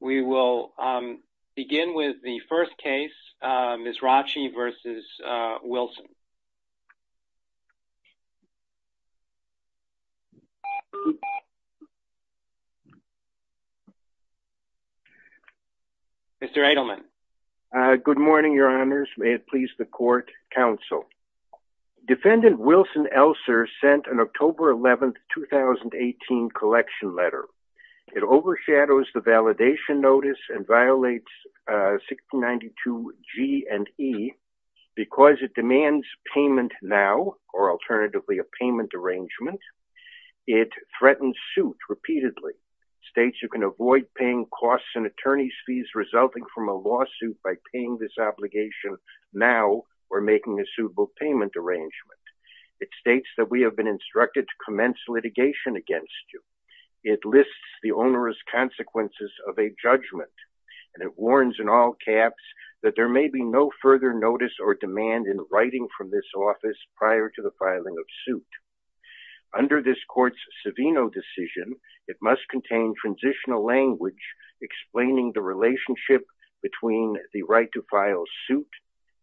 We will begin with the first case, Mizrachi v. Wilson. Mr. Edelman. Good morning, Your Honors. May it please the Court, Counsel. Defendant Wilson Elser sent an October 11, 2018 collection letter. It overshadows the validation notice and violates 1692 G and E because it demands payment now or alternatively a payment arrangement. It threatens suit repeatedly, states you can avoid paying costs and attorney's fees resulting from a lawsuit by paying this obligation now or making a suitable payment arrangement. It states that we have been instructed to commence litigation against you. It lists the onerous consequences of a judgment and it warns in all caps that there may be no further notice or demand in writing from this office prior to the filing of suit. Under this court's Savino decision, it must contain transitional language explaining the relationship between the right to file suit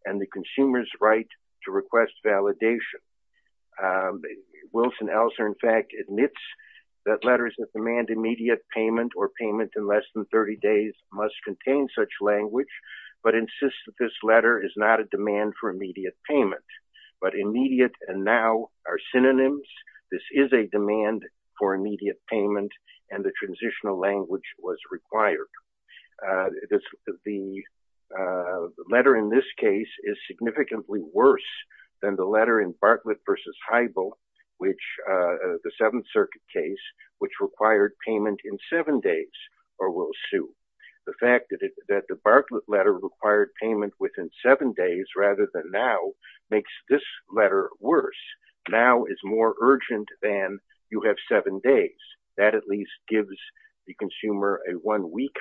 and the consumer's right to request validation. Wilson Elser, in fact, admits that letters that demand immediate payment or payment in less than 30 days must contain such language but insists that this letter is not a demand for immediate payment but immediate and now are synonyms. This is a demand for immediate payment and the required. The letter in this case is significantly worse than the letter in Bartlett v. Heibel which, the Seventh Circuit case, which required payment in seven days or will sue. The fact that the Bartlett letter required payment within seven days rather than now makes this letter worse. Now is more urgent than you have seven days. That at least gives the consumer a one-week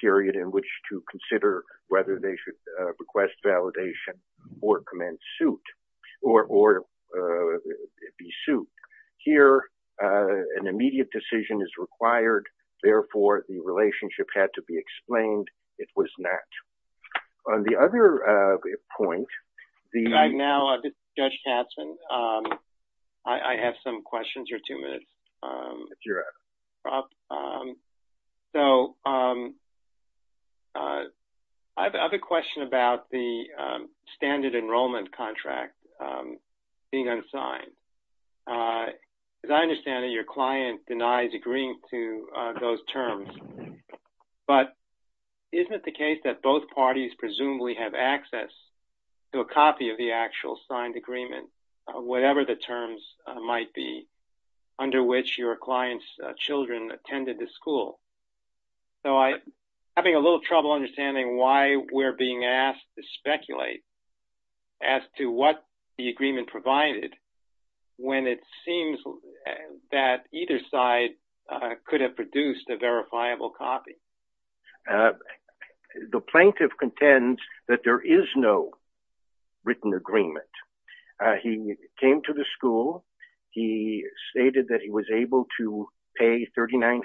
period in which to consider whether they should request validation or commence suit or be sued. Here, an immediate decision is required. Therefore, the relationship had to be explained. It was not. On the other point, I have a question about the standard enrollment contract being unsigned. As I understand it, your client denies agreeing to those terms but isn't it the case that both parties presumably have access to a copy of the actual signed agreement, whatever the terms might be, under which your client's children attended the school? So, I'm having a little trouble understanding why we're being asked to speculate as to what the agreement provided when it seems that either side could have produced a verifiable copy. The plaintiff contends that there is no written agreement. He came to the school. He stated that he was able to pay $3,900.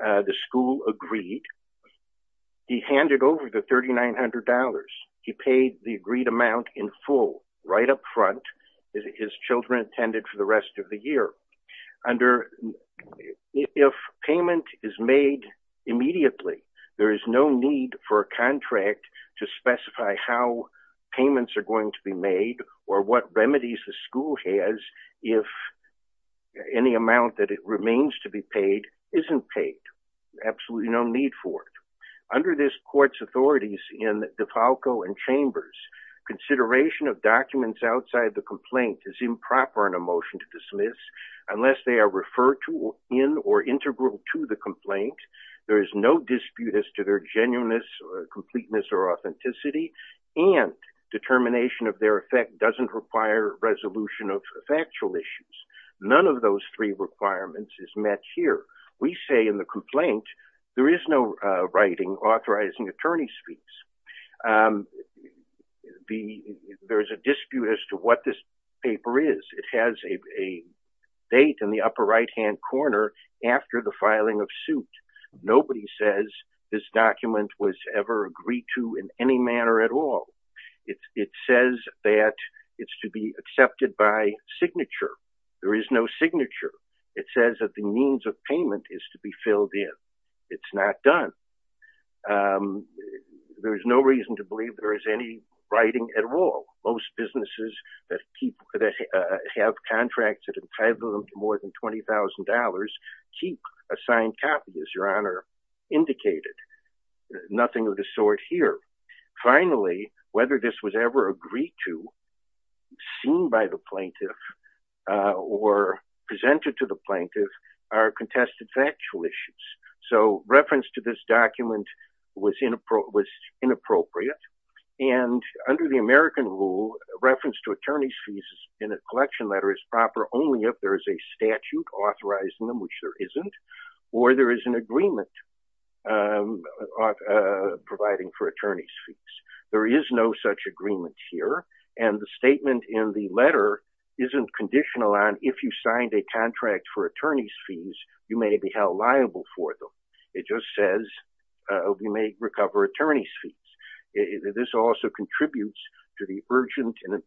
The school agreed. He handed over the $3,900. He paid the agreed amount in full, right up front, as his children attended for the rest of the year. If payment is made immediately, there is no need for a contract to specify how payments are going to be made or what remedies the school has if any amount that it remains to be paid isn't paid. Absolutely no need for it. Under this court's authorities in DeFalco and Chambers, consideration of documents outside the complaint is improper in a motion to dismiss unless they are referred to in or integral to the complaint. There is no dispute as to their genuineness or completeness or authenticity and determination of their effect doesn't require resolution of factual issues. None of those three requirements is met here. We say in the complaint there is no writing authorizing attorney's fees. There's a dispute as to what this paper is. It has a date in the upper right-hand corner after the filing of suit. Nobody says this document was ever agreed to in any manner at all. It says that it's to be accepted by signature. There is no signature. It says that the means of payment is to be filled in. It's not done. There's no reason to believe there is any writing at all. Most businesses that have contracts that entitle them to more than $20,000 keep assigned copies, Your Honor, indicated. Nothing of the sort here. Finally, whether this was ever agreed to, seen by the plaintiff, or presented to the plaintiff are contested factual issues. So reference to this document was inappropriate and under the American rule, reference to attorney's fees in a collection letter is proper only if there is a statute authorizing them, which there isn't, or there is an agreement providing for attorney's fees. There is no such agreement here, and the statement in the letter isn't conditional on if you signed a contract for attorney's fees, you may be held liable for them. It just says you may recover attorney's fees. This also contributes to the urgent and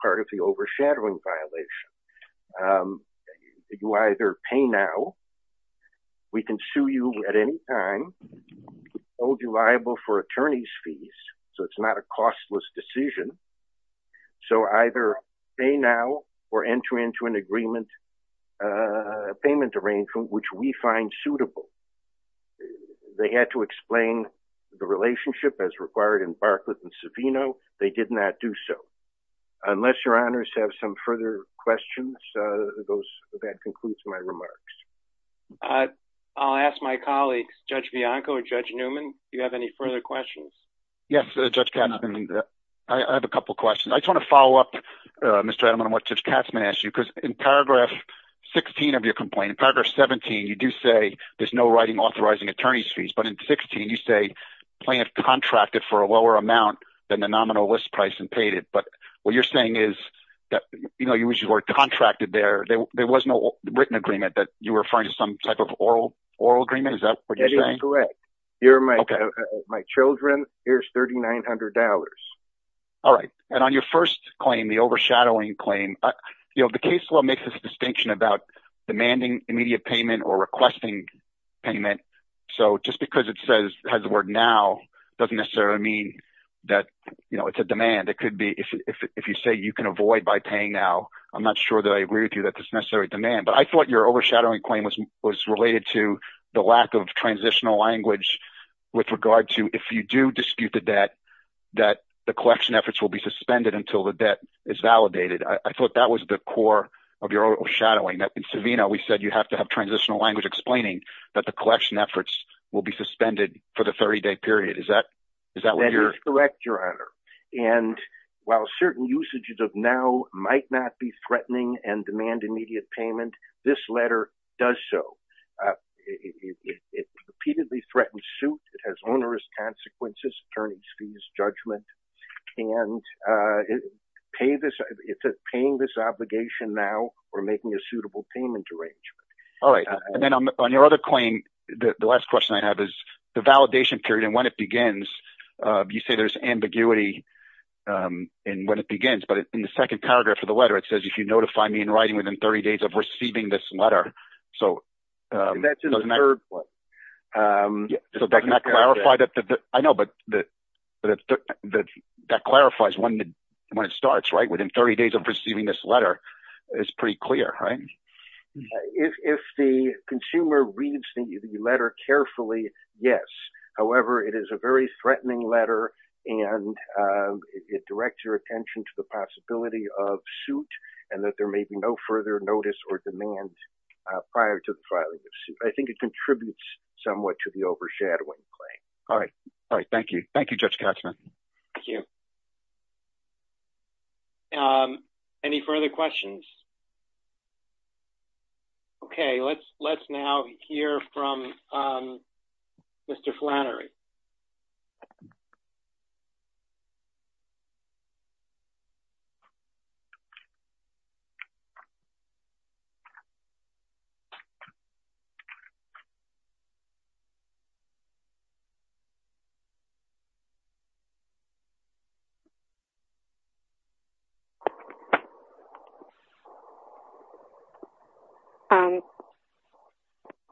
part of the overshadowing violation. You either pay now, we can sue you at any time, hold you liable for attorney's fees, so it's not a costless decision. So either pay now or enter into an agreement, a payment arrangement, which we find suitable. They had to explain the relationship as required in Barcliffe and Savino, they did not do so. Unless your honors have some further questions, that concludes my remarks. I'll ask my colleagues, Judge Bianco or Judge Newman, do you have any further questions? Yes, Judge Katzman, I have a couple questions. I just want to follow up, Mr. Adaman, on what Judge Katzman asked you, because in paragraph 16 of your complaint, in paragraph 17, you do say there's no writing authorizing attorney's fees, but in 16 you say plaintiff contracted for a nominal list price and paid it, but what you're saying is that, you know, you were contracted there, there was no written agreement that you were referring to some type of oral agreement, is that what you're saying? That is correct. Here are my children, here's $3,900. All right, and on your first claim, the overshadowing claim, you know, the case law makes a distinction about demanding immediate payment or requesting payment, so just because it says, has the word now, doesn't necessarily mean that, you know, it's a demand. It could be, if you say you can avoid by paying now, I'm not sure that I agree with you that this is a necessary demand, but I thought your overshadowing claim was related to the lack of transitional language with regard to, if you do dispute the debt, that the collection efforts will be suspended until the debt is validated. I thought that was the core of your overshadowing. In Savino, we said you have to have transitional language explaining that the collection efforts will be suspended for the 30-day period, is that what you're... That is correct, Your Honor, and while certain usages of now might not be threatening and demand immediate payment, this letter does so. It repeatedly threatens suit, it has onerous consequences, attorney's fees, judgment, and is it paying this obligation now or making a suitable payment arrangement? All right, and then on your other claim, the last question I have is the validation period and when it begins, you say there's ambiguity in when it begins, but in the second paragraph of the letter, it says if you notify me in writing within 30 days of receiving this letter, so... That's in the third one. So that does not clarify that... I know, but that clarifies when it starts, right? Within 30 days of receiving this letter, it's pretty clear, right? If the consumer reads the letter carefully, yes. However, it is a very threatening letter and it directs your attention to the possibility of suit and that there may be no further notice or demand prior to the filing of suit. I think it contributes somewhat to the overshadowing claim. All right. All right, thank you. Thank you, we have a question here from Mr. Flannery.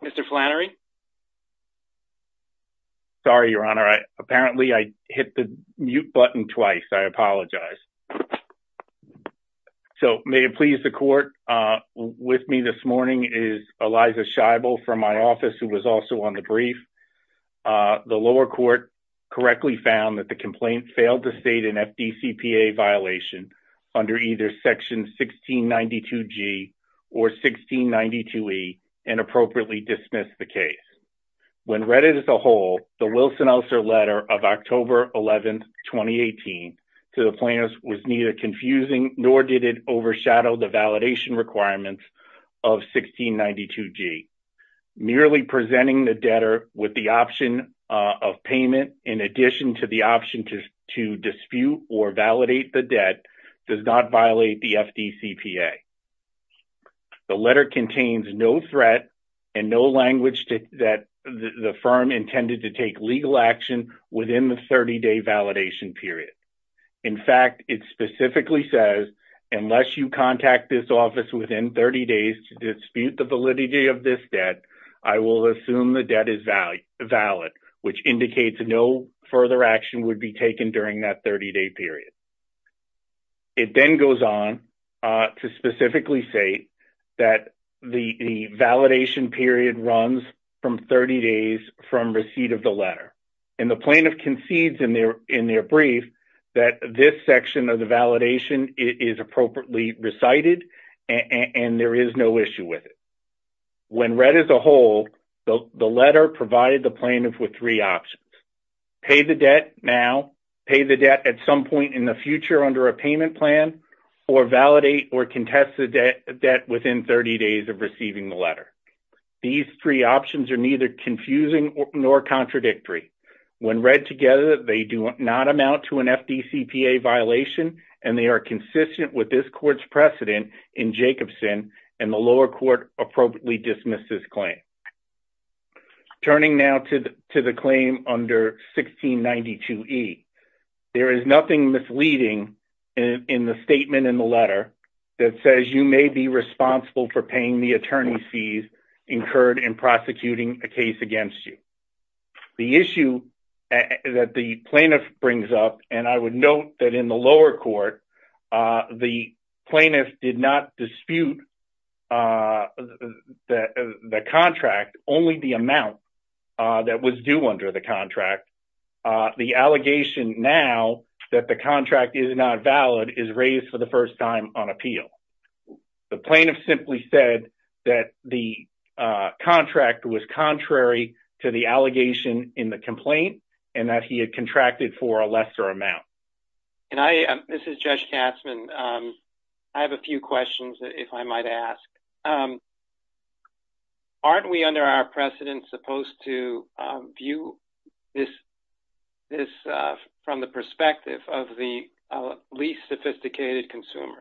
Mr. Flannery? Sorry, Your Honor. Apparently, I hit the mute button twice. I apologize. So, may it please the court, with me this morning is Eliza Scheibel from my office who was also on the brief. The lower court correctly found that the complaint failed to state an FDCPA violation under either Section 1692G or 1692E and appropriately dismissed the case. When read as a whole, the Wilson-Elser letter of October 11, 2018, to the plaintiffs was neither confusing nor did it overshadow the validation requirements of 1692G. Merely presenting the debtor with the option of payment in addition to the option to dispute or validate the FDCPA. The letter contains no threat and no language that the firm intended to take legal action within the 30-day validation period. In fact, it specifically says, unless you contact this office within 30 days to dispute the validity of this debt, I will assume the debt is valid, which indicates no further action would be taken during that 30-day period. It then goes on to specifically say that the validation period runs from 30 days from receipt of the letter. And the plaintiff concedes in their brief that this section of the validation is appropriately recited and there is no issue with it. When read as a whole, the letter provided the plaintiff with three options. Pay the debt now, pay the debt at some point in the future under a payment plan, or validate or contest the debt within 30 days of receiving the letter. These three options are neither confusing nor contradictory. When read together, they do not amount to an FDCPA violation and they are consistent with this court's precedent in Jacobson and the lower court appropriately dismissed this claim. Turning now to the claim under 1692E, there is nothing misleading in the statement in the letter that says you may be responsible for paying the attorney's fees incurred in prosecuting a case against you. The issue that the plaintiff brings up, and I would note that in the lower court, the plaintiff did not dispute the contract, only the amount that was due under the contract. The allegation now that the contract is not valid is raised for the first time on appeal. The plaintiff simply said that the contract was contrary to the allegation in the complaint and that he had contracted for a lesser amount. And I, this is Judge Katzmann, I have a few questions if I might ask. Aren't we under our precedent supposed to view this from the perspective of the least sophisticated consumer?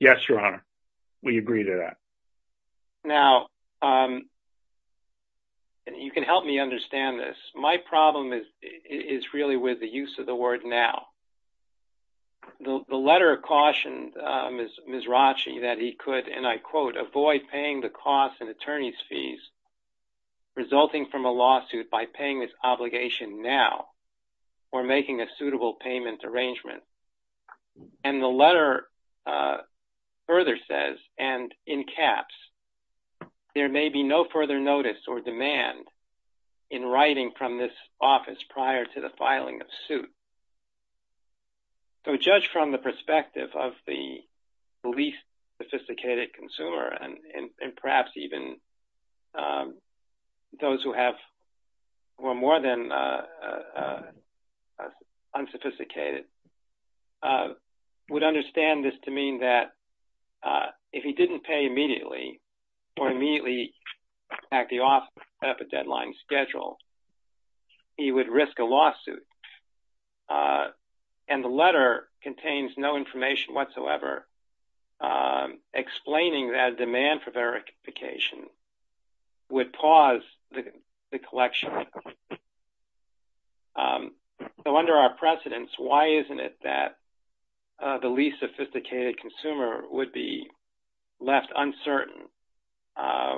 Yes, Your Honor, we agree to that. Now, you can help me is really with the use of the word now. The letter cautioned Ms. Rotchie that he could, and I quote, avoid paying the costs and attorney's fees resulting from a lawsuit by paying this obligation now or making a suitable payment arrangement. And the letter further says, and in caps, there may be no further notice or demand in writing from this office prior to the filing of suit. So, judge, from the perspective of the least sophisticated consumer, and perhaps even those who have, who are more than unsophisticated, would understand this to the deadline schedule, he would risk a lawsuit. And the letter contains no information whatsoever explaining that a demand for verification would pause the collection. So, under our precedence, why isn't it that the least sophisticated consumer would be left uncertain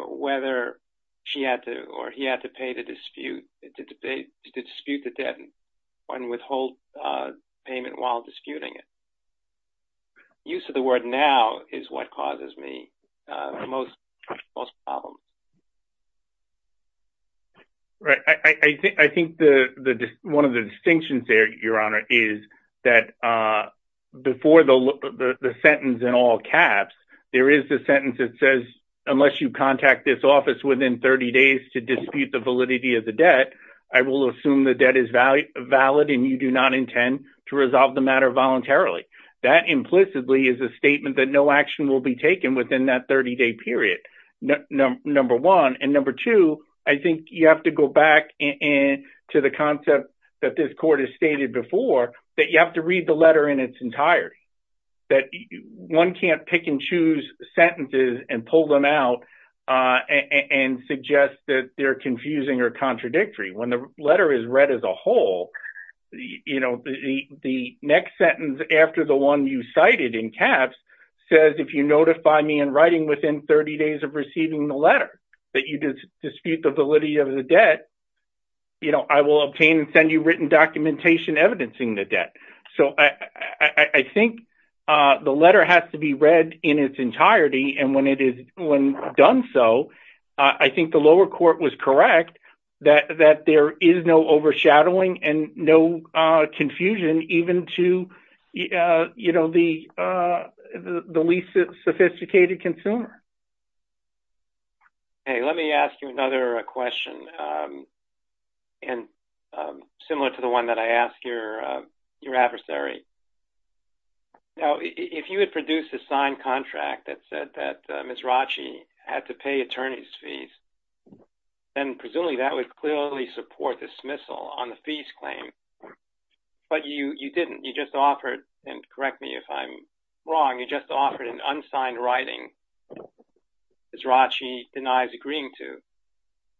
whether she had to, or he had to pay the dispute, to dispute the debt and withhold payment while disputing it? Use of the word now is what causes me the most problems. Right, I think one of the caps, there is a sentence that says unless you contact this office within 30 days to dispute the validity of the debt, I will assume the debt is valid and you do not intend to resolve the matter voluntarily. That implicitly is a statement that no action will be taken within that 30-day period, number one. And number two, I think you have to go back to the concept that this court has stated before, that you have to read the letter in its entirety. That one can't pick and choose sentences and pull them out and suggest that they're confusing or contradictory. When the letter is read as a whole, you know, the next sentence after the one you cited in caps says if you notify me in writing within 30 days of receiving the letter that you dispute the validity of the debt, you know, I will obtain and send you written documentation evidencing the debt. So I think the letter has to be read in its entirety and when it is done so, I think the lower court was correct that there is no overshadowing and no confusion even to, you know, the least sophisticated consumer. Okay. Let me ask you another question and similar to the one that I asked your adversary. Now, if you had produced a signed contract that said that Ms. Rachi had to pay attorney's fees, then presumably that would clearly support dismissal on the fees claim. But you didn't. You just offered, and correct me if I'm wrong, you just Ms. Rachi denies agreeing to.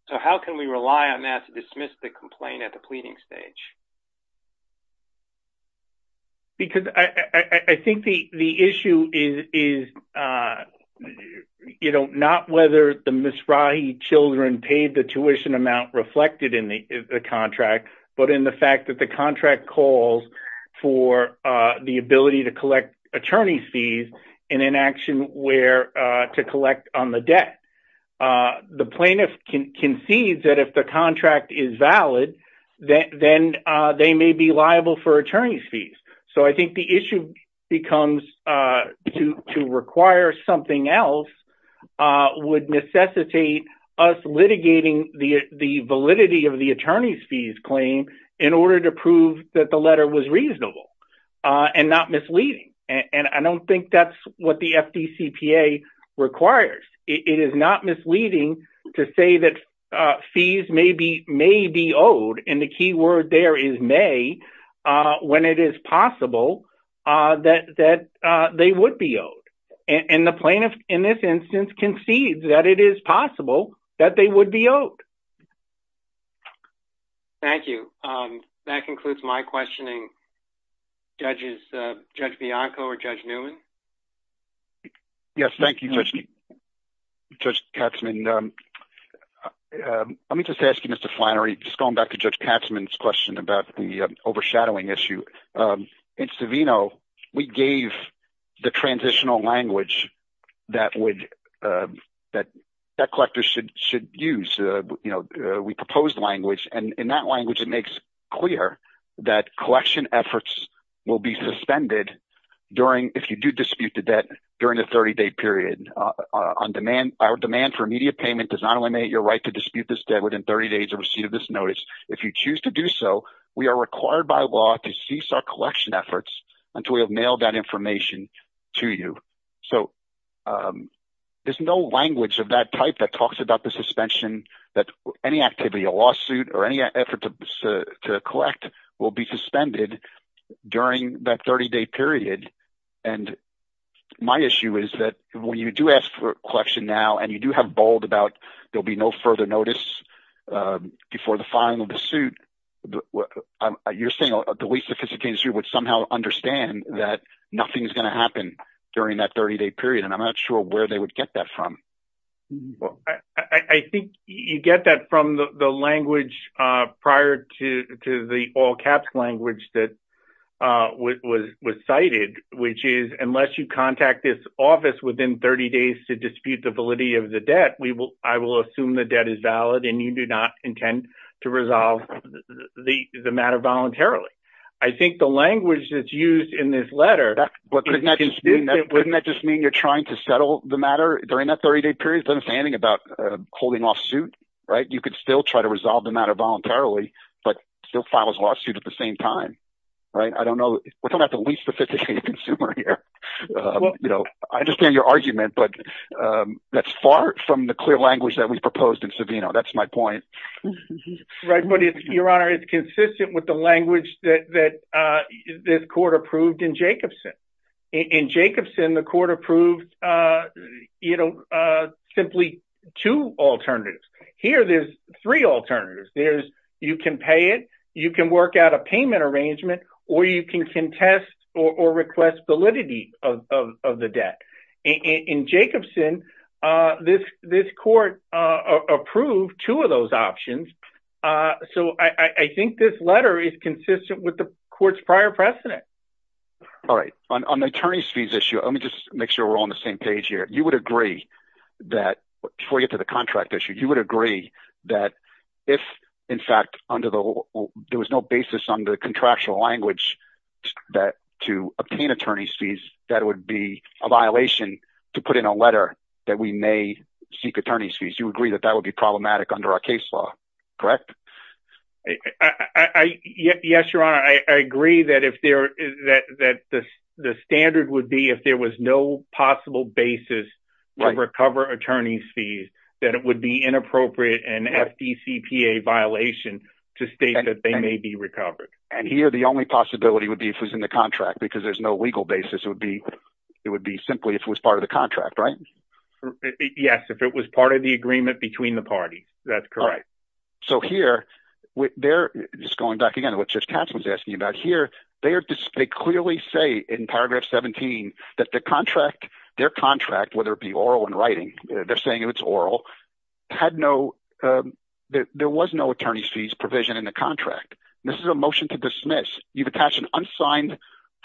So how can we rely on that to dismiss the complaint at the pleading stage? Because I think the issue is, you know, not whether the Ms. Rachi children paid the tuition amount reflected in the contract, but in the fact that the contract calls for the ability to collect attorney's fees in an action where to collect on the debt. The plaintiff concedes that if the contract is valid, then they may be liable for attorney's fees. So I think the issue becomes to require something else would necessitate us litigating the validity of the attorney's fees claim in order to prove that the letter was reasonable and not misleading. And I don't think that's what the FDCPA requires. It is not misleading to say that fees may be owed, and the key word there is may, when it is possible that they would be owed. And the plaintiff in this instance concedes that it is possible that they would be owed. Thank you. That concludes my questioning. Judges, Judge Bianco or Judge Newman? Yes, thank you, Judge Katzmann. Let me just ask you, Mr. Flannery, just going back to Judge Katzmann's question about the overshadowing issue. In Savino, we gave the transitional language that collectors should use. We proposed language, and in that language, it makes clear that collection efforts will be suspended if you do dispute the debt during the 30-day period. Our demand for immediate payment does not eliminate your right to dispute this debt within 30 days of receipt of this notice. If you choose to do so, we are required by law to cease our collection efforts until we have mailed that information to you. So there's no language of that type that talks about the suspension that any activity, a lawsuit, or any effort to collect will be suspended during that 30-day period. And my issue is that when you do ask for collection now, and you do have bold about there'll be no further notice before the final suit, you're saying the least sophisticated suit would somehow understand that nothing's going to happen during that 30-day period, and I'm not sure where they would get that from. I think you get that from the language prior to the all-caps language that was cited, which is, unless you contact this office within 30 days to dispute the validity of the debt, I will assume the debt is valid, and you do not intend to resolve the matter voluntarily. I think the language that's used in this letter... Wouldn't that just mean you're trying to settle the matter during that 30-day period? It doesn't say anything about holding lawsuit, right? You could still try to resolve the matter voluntarily, but still file a lawsuit at the same time, right? We're talking about the least sophisticated consumer here. I understand your argument, but that's far from the clear language that we've proposed in Savino. That's my point. Right, but your honor, it's consistent with the language that this court approved in Jacobson. In Jacobson, the court approved you know, simply two alternatives. Here, there's three alternatives. There's you can pay it, you can work out a payment arrangement, or you can contest or request validity of the debt. In Jacobson, this court approved two of those options, so I think this letter is consistent with the court's prior precedent. All right, on the attorney's fees issue, let me just make sure we're all on the same page here. You would agree that before we get to the contract issue, you would agree that if in fact there was no basis on the contractual language to obtain attorney's fees, that would be a violation to put in a letter that we may seek attorney's fees. You agree that that would be problematic under our case law, correct? I agree that the standard would be if there was no possible basis to recover attorney's fees, that it would be inappropriate and FDCPA violation to state that they may be recovered. And here, the only possibility would be if it was in the contract because there's no legal basis. It would be simply if it was part of the contract, right? Yes, if it was part of the agreement between the parties, that's correct. So here, just going back again to what Judge Katz was asking about here, they clearly say in paragraph 17 that their contract, whether it be oral and writing, they're saying it's oral, there was no attorney's fees provision in the contract. This is a motion to dismiss. You've attached an unsigned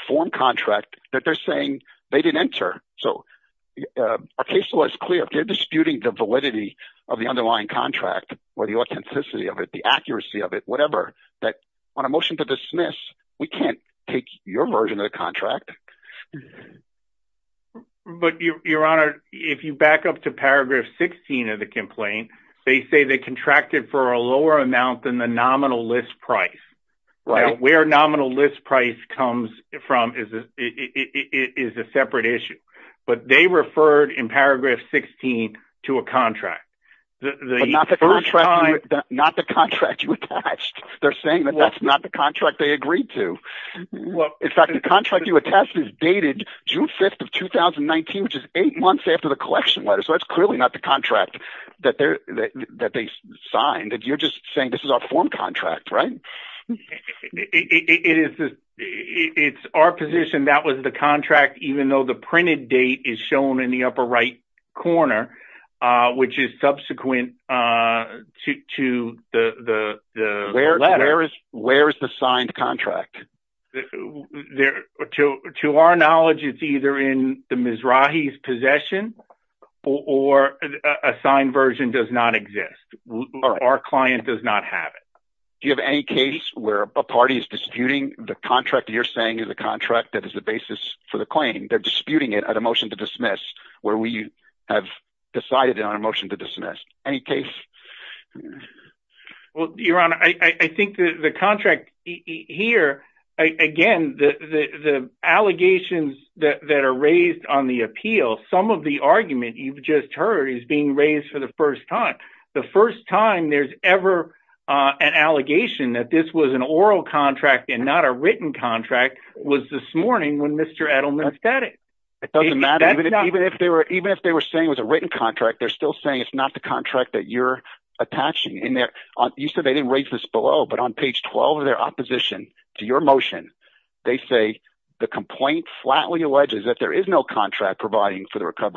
form contract that they're saying they didn't enter. So our case law is clear. They're disputing the validity of the underlying contract or the authenticity of it, the accuracy of it, whatever, that on a motion to dismiss, we can't take your version of the contract. But Your Honor, if you back up to paragraph 16 of the complaint, they say they contracted for a lower amount than the nominal list price. Where nominal list price comes from is a separate issue. But they referred in paragraph 16 to a contract. But not the contract you attached. They're saying that that's not the contract they agreed to. In fact, the contract you attest is dated June 5th of 2019, which is eight months after the collection letter. So that's clearly not the contract that they signed. You're just saying this is our form contract, right? It's our position that was the contract, even though the printed date is shown in the upper right corner, which is subsequent to the letter. Where is the signed contract? To our knowledge, it's either in the Mizrahi's possession or a signed version does not exist. Our client does not have it. Do you have any case where a party is disputing the contract that you're saying is a contract that is the basis for the claim? They're disputing it at a motion to dismiss, where we have decided it on a motion to dismiss. Any case? Well, Your Honor, I think the contract here, again, the allegations that are raised on the argument you've just heard is being raised for the first time. The first time there's ever an allegation that this was an oral contract and not a written contract was this morning when Mr. Edelman said it. It doesn't matter. Even if they were saying it was a written contract, they're still saying it's not the contract that you're attaching. You said they didn't raise this below, but on page 12 of their opposition to your motion, they say the complaint flatly alleges that there is no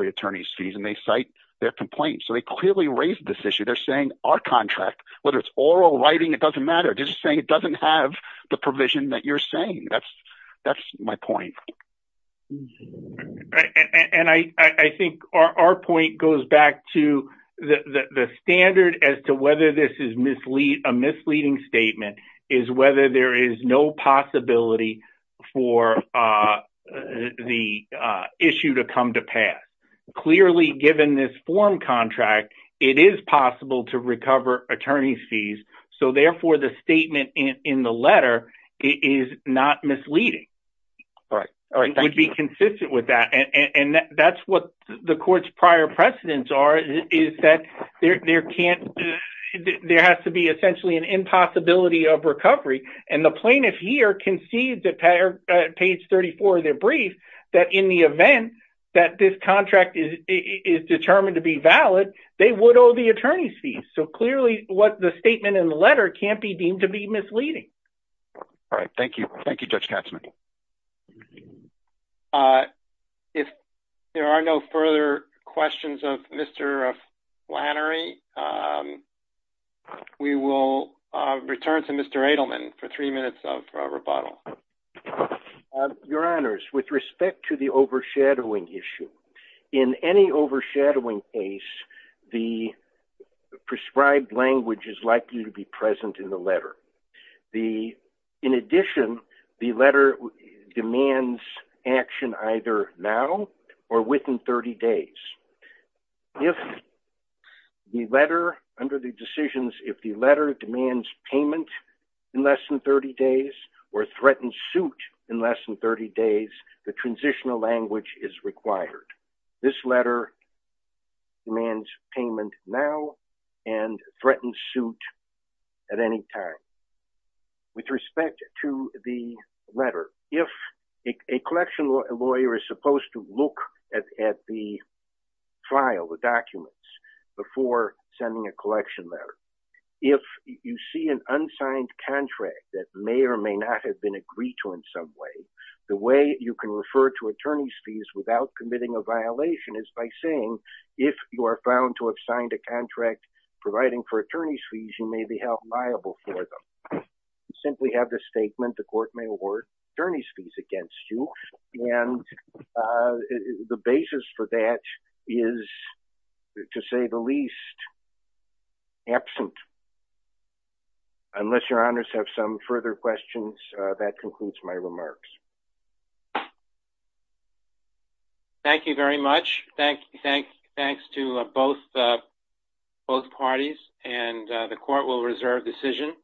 attorney's fees and they cite their complaint. So they clearly raised this issue. They're saying our contract, whether it's oral, writing, it doesn't matter. They're just saying it doesn't have the provision that you're saying. That's my point. And I think our point goes back to the standard as to whether this is a misleading statement is whether there is no possibility for the issue to come to pass. Clearly, given this form contract, it is possible to recover attorney's fees. So therefore, the statement in the letter is not misleading. It would be consistent with that. And that's what the court's prior precedents are, is that there has to be essentially an impossibility of recovery. And the plaintiff here conceived that page 34 of their brief, that in the event that this contract is determined to be valid, they would owe the attorney's fees. So clearly what the statement in the letter can't be deemed to be misleading. All right. Thank you. Thank you, Judge Katzmann. Thank you. If there are no further questions of Mr. Flannery, we will return to Mr. Edelman for three minutes of rebuttal. Your honors, with respect to the overshadowing issue, in any overshadowing case, the prescribed language is likely to be present in the letter. In addition, the letter demands action either now or within 30 days. Under the decisions, if the letter demands payment in less than 30 days or threatens suit in less than 30 days, the transitional language is required. This letter demands payment now and threatens suit at any time. With respect to the letter, if a collection lawyer is supposed to look at the file, the documents, before sending a collection letter, if you see an unsigned contract that may or may not have been agreed to in some way, the way you can refer to attorney's fees without committing a violation is by saying, if you are found to have signed a contract providing for attorney's fees, you may be held liable for them. Simply have the statement, the court may award attorney's fees against you, and the basis for that is, to say the least, absent. Unless your honors have some further questions, that concludes my remarks. Thank you very much. Thanks to both parties, and the court will reserve decision.